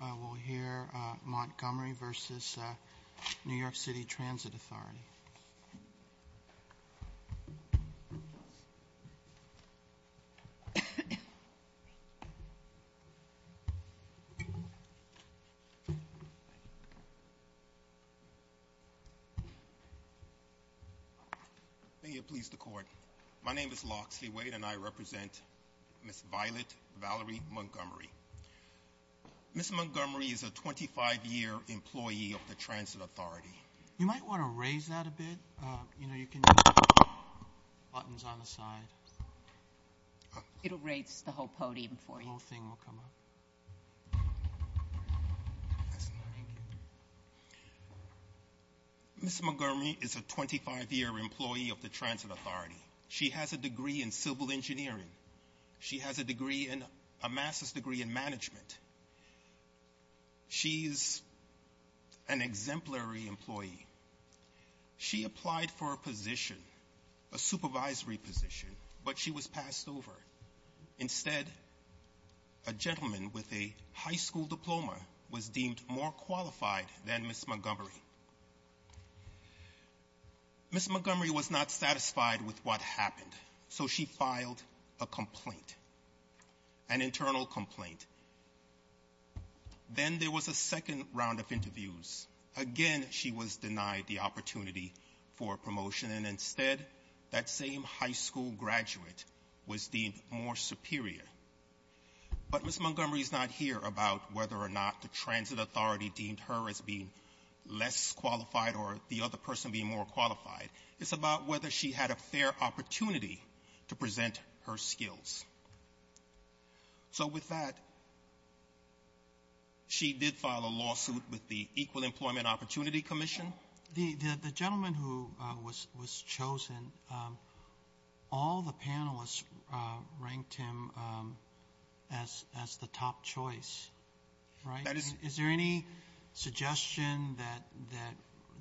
authority. May it please the court. My name is Locksley Wade and I represent Ms. Violet Valerie Montgomery. Ms. Montgomery is a 25-year employee of the Transit Authority. Ms. Montgomery is a 25-year employee of the Transit Authority. She has a degree in civil engineering. She has a master's degree in management. She's an exemplary employee. She applied for a position, a supervisory position, but she was passed over. Instead, a gentleman with a high school diploma was deemed more qualified than Ms. Montgomery. Ms. Montgomery was not satisfied with what happened, so she filed a complaint, an internal complaint. Then there was a second round of interviews. Again, she was denied the opportunity for promotion. And instead, that same high school graduate was deemed more superior. But Ms. Montgomery is not here about whether or not the Transit Authority deemed her as being less qualified or the other person being more qualified. It's about whether she had a fair opportunity to present her skills. So with that, she did file a lawsuit with the Equal Employment Opportunity Commission. The gentleman who was chosen, all the panelists ranked him as the top choice, right? Is there any suggestion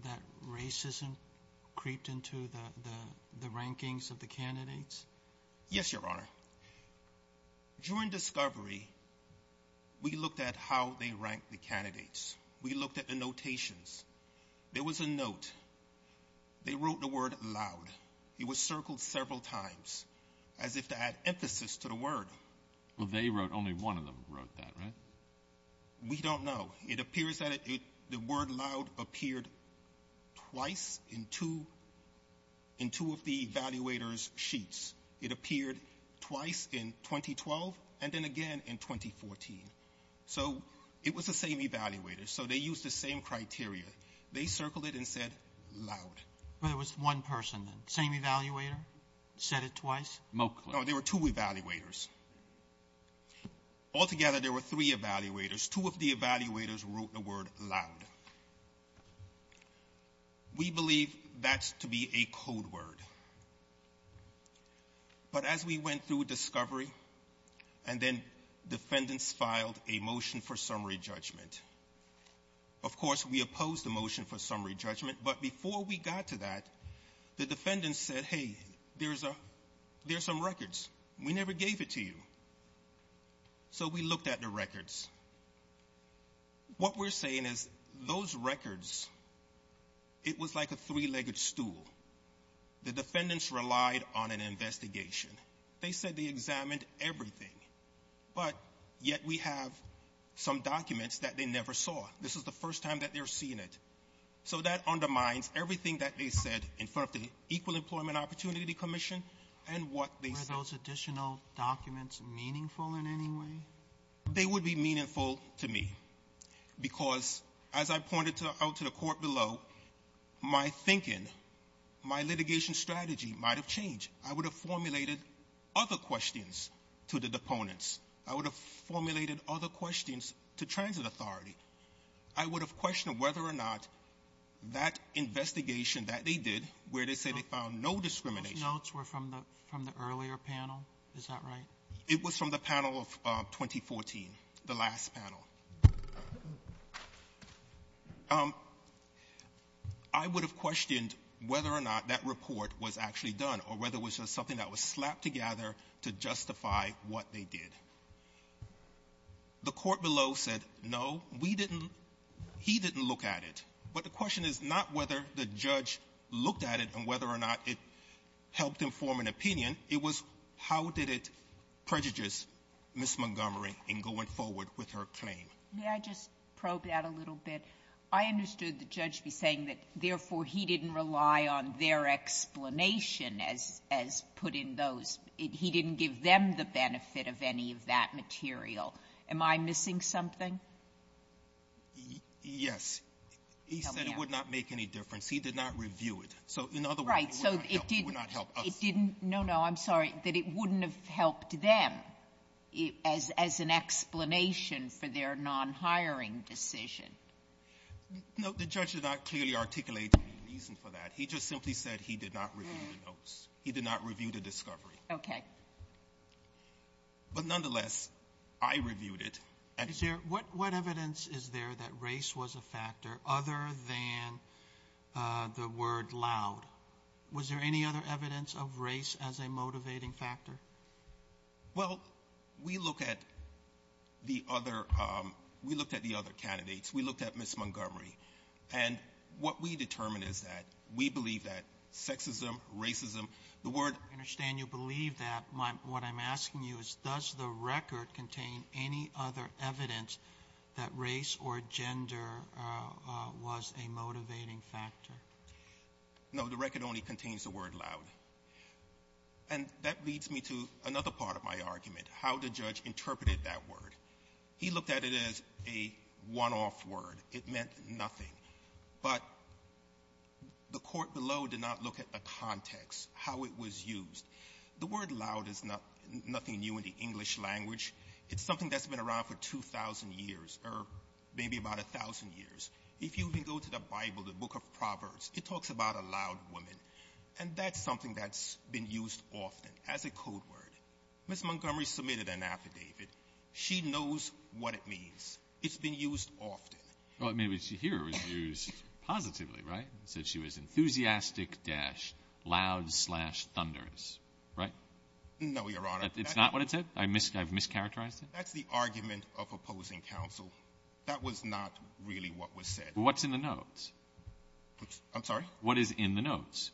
that racism creeped into the rankings of the candidates? Yes, Your Honor. During discovery, we looked at how they ranked the candidates. We looked at the notations. There was a note. They wrote the word loud. It was circled several times as if to add emphasis to the word. Well, they wrote, only one of them wrote that, right? We don't know. It appears that the word loud appeared twice in two of the evaluators' sheets. It appeared twice in 2012 and then again in 2014. So it was the same evaluator. So they used the same criteria. They circled it and said loud. But it was one person, then. Same evaluator said it twice? No, there were two evaluators. Altogether, there were three evaluators. Two of the evaluators wrote the word loud. We believe that's to be a code word. But as we went through discovery, and then defendants filed a motion for summary judgment. Of course, we opposed the motion for summary judgment. But before we got to that, the defendants said, hey, there's some records. We never gave it to you. So we looked at the records. What we're saying is those records, it was like a three-legged stool. The defendants relied on an investigation. They said they examined everything. But yet we have some documents that they never saw. This is the first time that they're seeing it. So that undermines everything that they said in front of the Equal Employment Opportunity Commission and what they said. Were those additional documents meaningful in any way? They would be meaningful to me. Because as I pointed out to the court below, my thinking, my litigation strategy might have changed. I would have formulated other questions to the deponents. I would have formulated other questions to transit authority. I would have questioned whether or not that investigation that they did, where they said they found no discrimination. Those notes were from the earlier panel? Is that right? It was from the panel of 2014, the last panel. I would have questioned whether or not that report was actually done, or whether it was just something that was slapped together to justify what they did. The court below said, no, we didn't, he didn't look at it. But the question is not whether the judge looked at it and whether or not it helped inform an opinion. It was how did it prejudice Ms. Montgomery in going forward with her claim. May I just probe that a little bit? I understood the judge be saying that, therefore, he didn't rely on their explanation as put in those. He didn't give them the benefit of any of that material. Am I missing something? Yes. He said it would not make any difference. He did not review it. So in other words, it would not help us. No, no, I'm sorry, that it wouldn't have helped them as an explanation for their non-hiring decision. No, the judge did not clearly articulate the reason for that. He just simply said he did not review the notes. He did not review the discovery. Okay. But nonetheless, I reviewed it. What evidence is there that race was a factor other than the word loud? Was there any other evidence of race as a motivating factor? Well, we looked at the other candidates. We looked at Ms. Montgomery. And what we determined is that we believe that sexism, racism, the word. I understand you believe that. What I'm asking you is does the record contain any other evidence that race or gender was a motivating factor? No, the record only contains the word loud. And that leads me to another part of my argument, how the judge interpreted that word. He looked at it as a one-off word. It meant nothing. But the Court below did not look at the context, how it was used. The word loud is nothing new in the English language. It's something that's been around for 2,000 years or maybe about 1,000 years. If you even go to the Bible, the Book of Proverbs, it talks about a loud woman. And that's something that's been used often as a code word. Ms. Montgomery submitted an affidavit. She knows what it means. It's been used often. Well, I mean, here it was used positively, right? It said she was enthusiastic-loud-thunderous, right? No, Your Honor. It's not what it said? I've mischaracterized it? That's the argument of opposing counsel. That was not really what was said. Well, what's in the notes? I'm sorry? What is in the notes?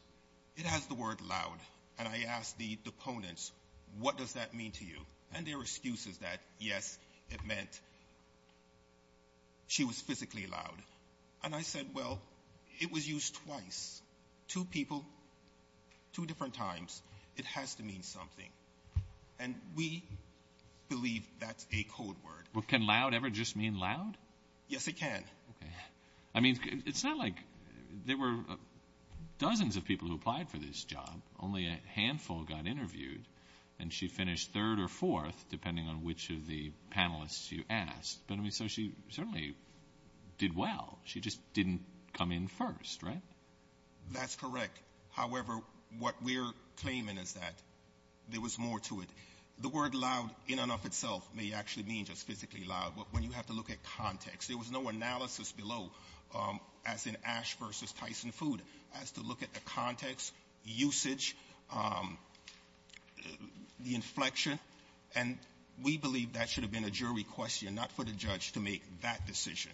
It has the word loud. And I asked the opponents, what does that mean to you? And their excuse is that, yes, it meant she was physically loud. And I said, well, it was used twice, two people, two different times. It has to mean something. And we believe that's a code word. Well, can loud ever just mean loud? Yes, it can. Okay. I mean, it's not like there were dozens of people who applied for this job. Only a handful got interviewed. And she finished third or fourth, depending on which of the panelists you asked. So she certainly did well. She just didn't come in first, right? That's correct. However, what we're claiming is that there was more to it. The word loud in and of itself may actually mean just physically loud, but when you have to look at context, there was no analysis below, as in Ash versus Tyson Food, as to look at the context, usage, the inflection. And we believe that should have been a jury question, not for the judge to make that decision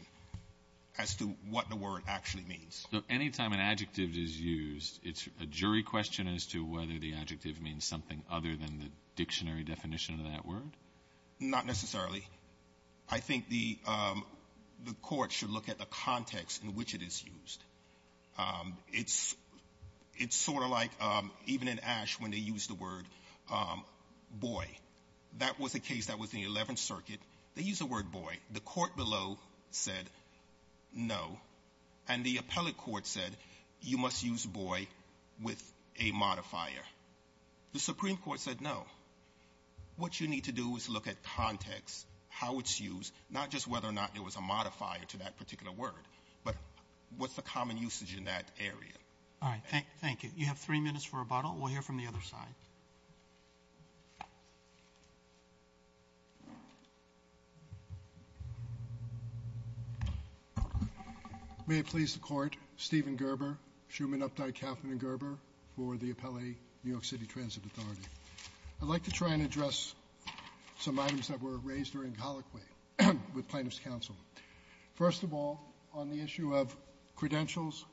as to what the word actually means. So any time an adjective is used, it's a jury question as to whether the adjective means something other than the dictionary definition of that word? Not necessarily. I think the court should look at the context in which it is used. It's sort of like even in Ash when they used the word boy. That was a case that was in the 11th Circuit. They used the word boy. The court below said no. And the appellate court said you must use boy with a modifier. The Supreme Court said no. What you need to do is look at context, how it's used, not just whether or not there was a modifier to that particular word, but what's the common usage in that area. All right. Thank you. You have three minutes for rebuttal. We'll hear from the other side. May it please the Court, Stephen Gerber, Shuman, Updike, Kauffman and Gerber for the appellate New York City Transit Authority. I'd like to try and address some items that were raised during colloquy with plaintiffs' counsel. First of all, on the issue of credentials,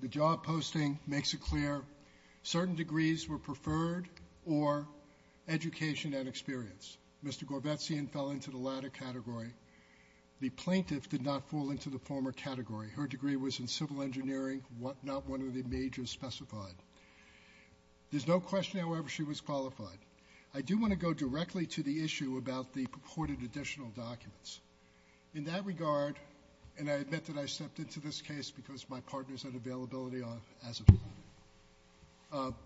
the job posting makes it clear certain degrees were preferred or education and experience. Mr. Gorbetsian fell into the latter category. The plaintiff did not fall into the former category. Her degree was in civil engineering, not one of the majors specified. There's no question, however, she was qualified. I do want to go directly to the issue about the purported additional documents. In that regard, and I admit that I stepped into this case because my partners had availability as a plaintiff,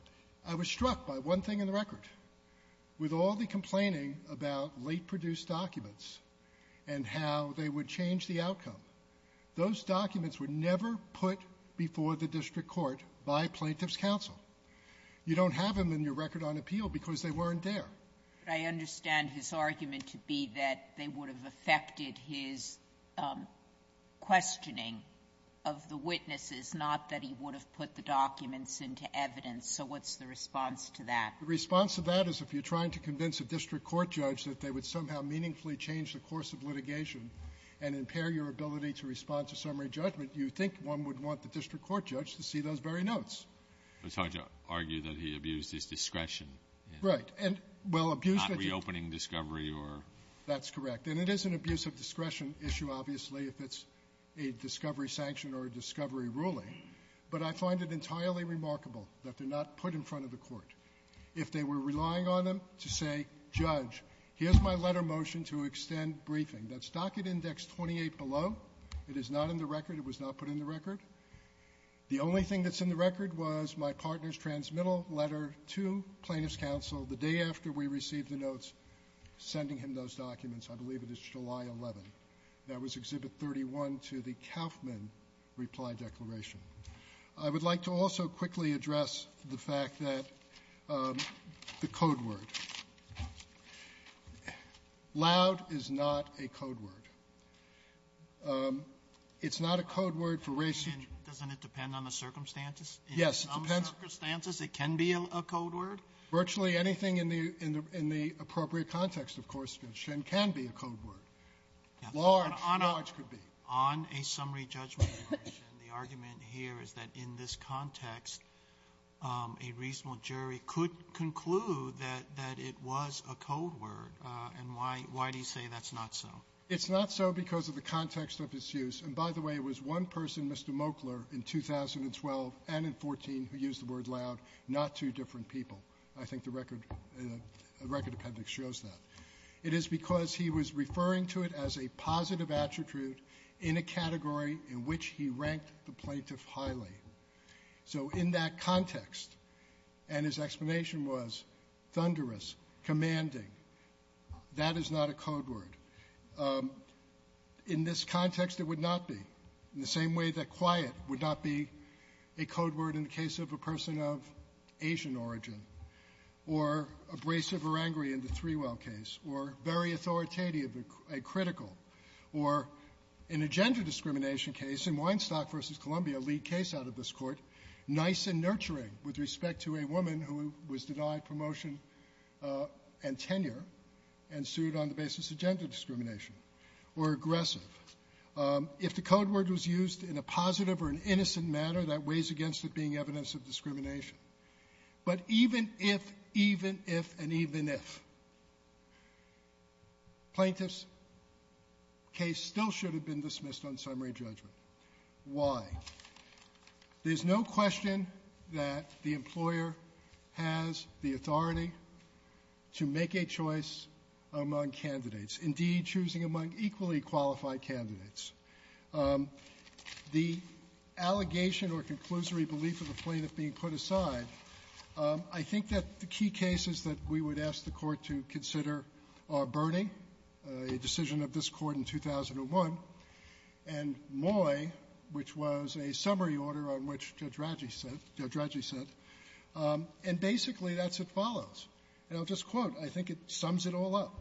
I was struck by one thing in the record. With all the complaining about late-produced documents and how they would change the outcome, those documents were never put before the district court by plaintiffs' counsel. You don't have them in your record on appeal because they weren't there. But I understand his argument to be that they would have affected his questioning of the witnesses, not that he would have put the documents into evidence. So what's the response to that? The response to that is if you're trying to convince a district court judge that they would somehow meaningfully change the course of litigation and impair your ability to respond to summary judgment, you think one would want the district court judge to see those very notes. It's hard to argue that he abused his discretion. Right. And well, abuse that you ---- Not reopening discovery or ---- That's correct. And it is an abuse of discretion issue, obviously, if it's a discovery sanction or a discovery ruling. But I find it entirely remarkable that they're not put in front of the court. If they were relying on them to say, judge, here's my letter motion to extend briefing, that's docket index 28 below. It is not in the record. It was not put in the record. The only thing that's in the record was my partner's transmittal letter to plaintiff's counsel the day after we received the notes sending him those documents. I believe it is July 11th. That was Exhibit 31 to the Kauffman reply declaration. I would like to also quickly address the fact that the code word. Loud is not a code word. It's not a code word for racial ---- Doesn't it depend on the circumstances? Yes, it depends. In some circumstances, it can be a code word? Virtually anything in the appropriate context, of course, can be a code word. Large, large could be. On a summary judgment, the argument here is that in this context, a reasonable jury could conclude that it was a code word. And why do you say that's not so? It's not so because of the context of its use. And, by the way, it was one person, Mr. Moakler, in 2012 and in 14 who used the word loud, not two different people. I think the record appendix shows that. It is because he was referring to it as a positive attribute in a category in which he ranked the plaintiff highly. So in that context, and his explanation was thunderous, commanding, that is not a code word. In this context, it would not be. In the same way that quiet would not be a code word in the case of a person of Asian origin, or abrasive or angry in the Threwell case, or very authoritative and critical, or in a gender discrimination case, in Weinstock v. Columbia, a lead case out of this Court, nice and nurturing with respect to a woman who was denied promotion and tenure and sued on the basis of gender discrimination, or aggressive. If the code word was used in a positive or an innocent manner, that weighs against it being evidence of discrimination. But even if, even if, and even if, plaintiff's case still should have been dismissed on summary judgment. Why? There's no question that the employer has the authority to make a choice among candidates, indeed choosing among equally qualified candidates. The allegation or conclusory belief of the plaintiff being put aside, I think that the key cases that we would ask the Court to consider are Burney, a decision of this Court in 2001, and Moy, which was a summary order on which Judge Radji said. And basically, that's what follows. And I'll just quote. I think it sums it all up.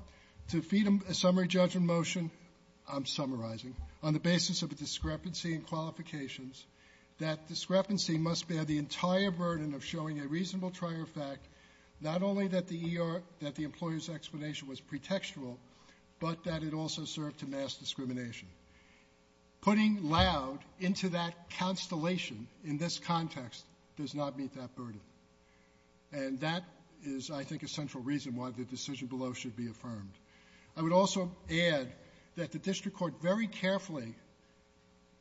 To feed a summary judgment motion, I'm summarizing, on the basis of a discrepancy in qualifications, that discrepancy must bear the entire burden of showing a reasonable trier fact, not only that the ER, that the employer's explanation was pretextual, but that it also served to mass discrimination. Putting loud into that constellation in this context does not meet that burden. And that is, I think, a central reason why the decision below should be affirmed. I would also add that the district court very carefully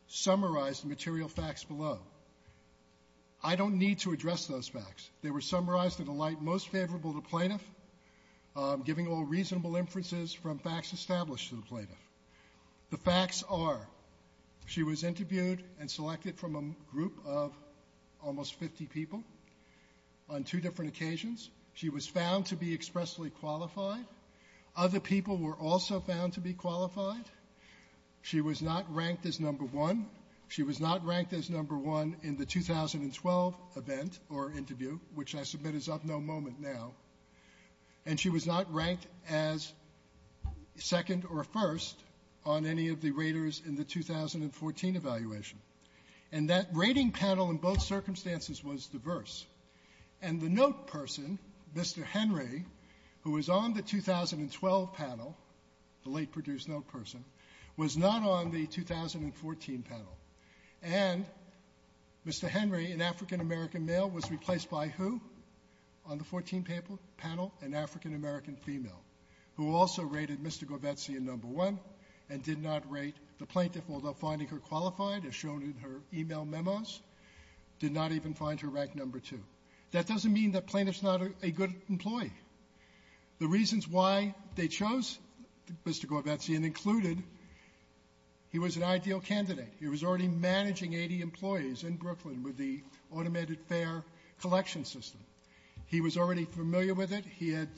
summarized the material facts below. I don't need to address those facts. They were summarized in a light most favorable to plaintiff, giving all reasonable inferences from facts established to the plaintiff. The facts are, she was interviewed and selected from a group of almost 50 people on two different occasions. She was found to be expressly qualified. Other people were also found to be qualified. She was not ranked as number one. She was not ranked as number one in the 2012 event or interview, which I submit is up no moment now. And she was not ranked as second or first on any of the raters in the 2014 evaluation. And that rating panel in both circumstances was diverse. And the note person, Mr. Henry, who was on the 2012 panel, the late Purdue's note person, was not on the 2014 panel. And Mr. Henry, an African-American male, was replaced by who on the 2014 panel? An African-American female, who also rated Mr. Gorbetsy a number one and did not rate the plaintiff, although finding her qualified, as shown in her e-mail memos, did not even find her ranked number two. That doesn't mean that plaintiff's not a good employee. The reasons why they chose Mr. Gorbetsy and included he was an ideal candidate. He was already managing 80 employees in Brooklyn with the automated fare collection system. He was already familiar with it. He had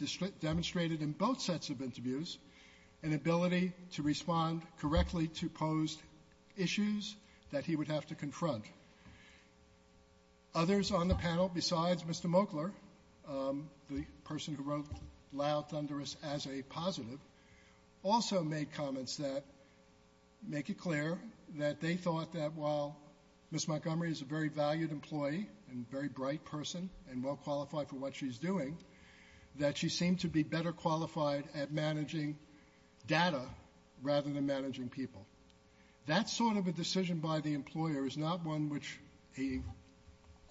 demonstrated in both sets of interviews an ability to respond correctly to posed issues that he would have to confront. Others on the panel, besides Mr. Moakler, the person who wrote loud thunderous as a positive, also made comments that make it clear that they thought that while Ms. Montgomery is a very valued employee and very bright person and well qualified for what she's doing, that she seemed to be better qualified at managing data rather than managing people. That sort of a decision by the employer is not one which a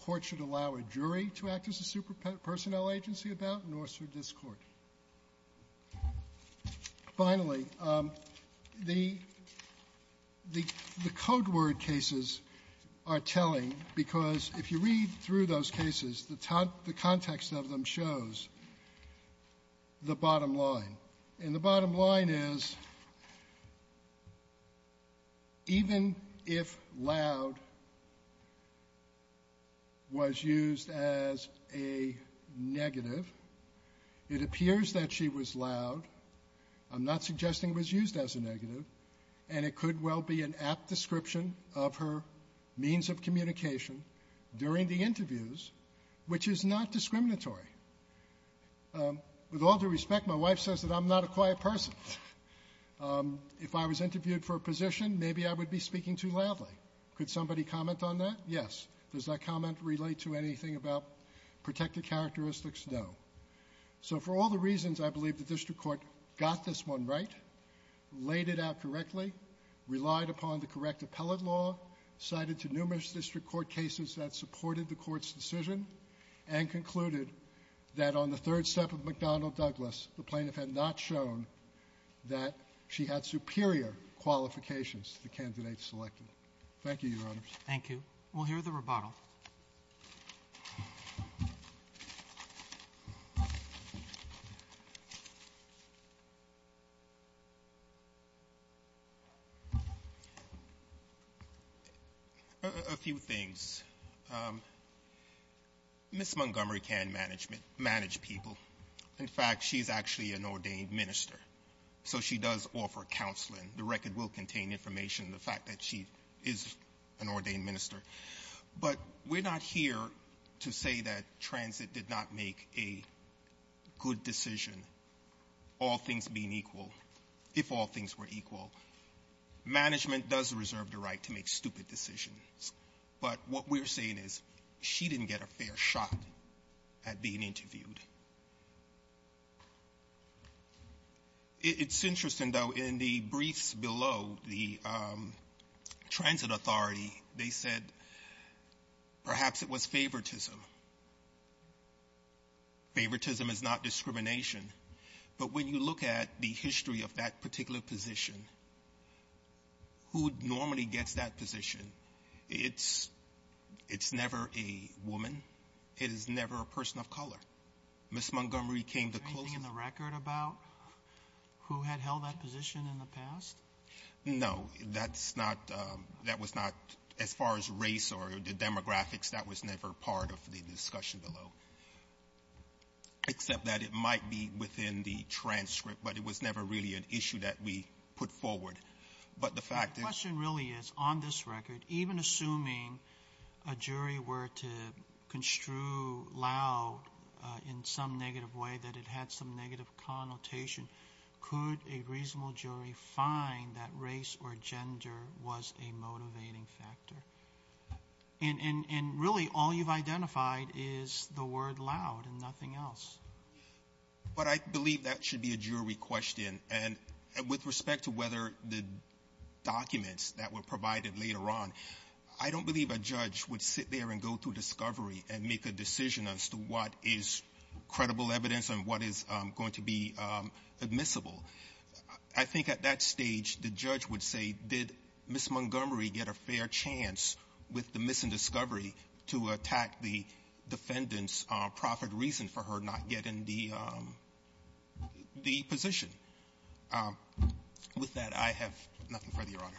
court should allow a jury to act as a super-personnel agency about, nor should this Court. Finally, the code word cases are telling because if you read through those cases, the context of them shows the bottom line. And the if loud was used as a negative, it appears that she was loud. I'm not suggesting it was used as a negative. And it could well be an apt description of her means of communication during the interviews, which is not discriminatory. With all due respect, my wife says that I'm maybe I would be speaking too loudly. Could somebody comment on that? Yes. Does that comment relate to anything about protective characteristics? No. So for all the reasons, I believe the District Court got this one right, laid it out correctly, relied upon the correct appellate law, cited to numerous District Court cases that supported the Court's decision, and concluded that on the third step of McDonnell Douglas, the plaintiff had not shown that she had superior qualifications to the candidate selected. Thank you, Your Honors. Thank you. We'll hear the rebuttal. A few things. Ms. Montgomery can manage people. In fact, she's actually an ordained minister. So she does offer counseling. The record will contain information, the fact that she is an ordained minister. But we're not here to say that transit did not make a good decision, all things being equal, if all things were equal. Management does reserve the right to make stupid decisions. But what we're saying is she didn't get a fair shot at being interviewed. It's interesting, though, in the briefs below the Transit Authority, they said perhaps it was favoritism. Favoritism is not discrimination. But when you look at the history of that particular position, who normally gets that position? It's never a woman. It is never a person of color. Ms. Montgomery came the closest. Was there a woman that you heard about who had held that position in the past? No. That's not as far as race or the demographics, that was never part of the discussion below, except that it might be within the transcript, but it was never really an issue that we put forward. But the fact is the question really is, on this record, even assuming a jury were to construe loud in some negative way that it had some negative consequences, connotation, could a reasonable jury find that race or gender was a motivating factor? And really all you've identified is the word loud and nothing else. But I believe that should be a jury question. And with respect to whether the documents that were provided later on, I don't believe a judge would sit there and go through discovery and make a decision as to what is credible evidence and what is going to be useful. And what is going to be admissible. I think at that stage, the judge would say, did Ms. Montgomery get a fair chance with the missing discovery to attack the defendant's profit reason for her not getting the position? With that, I have nothing further, Your Honor.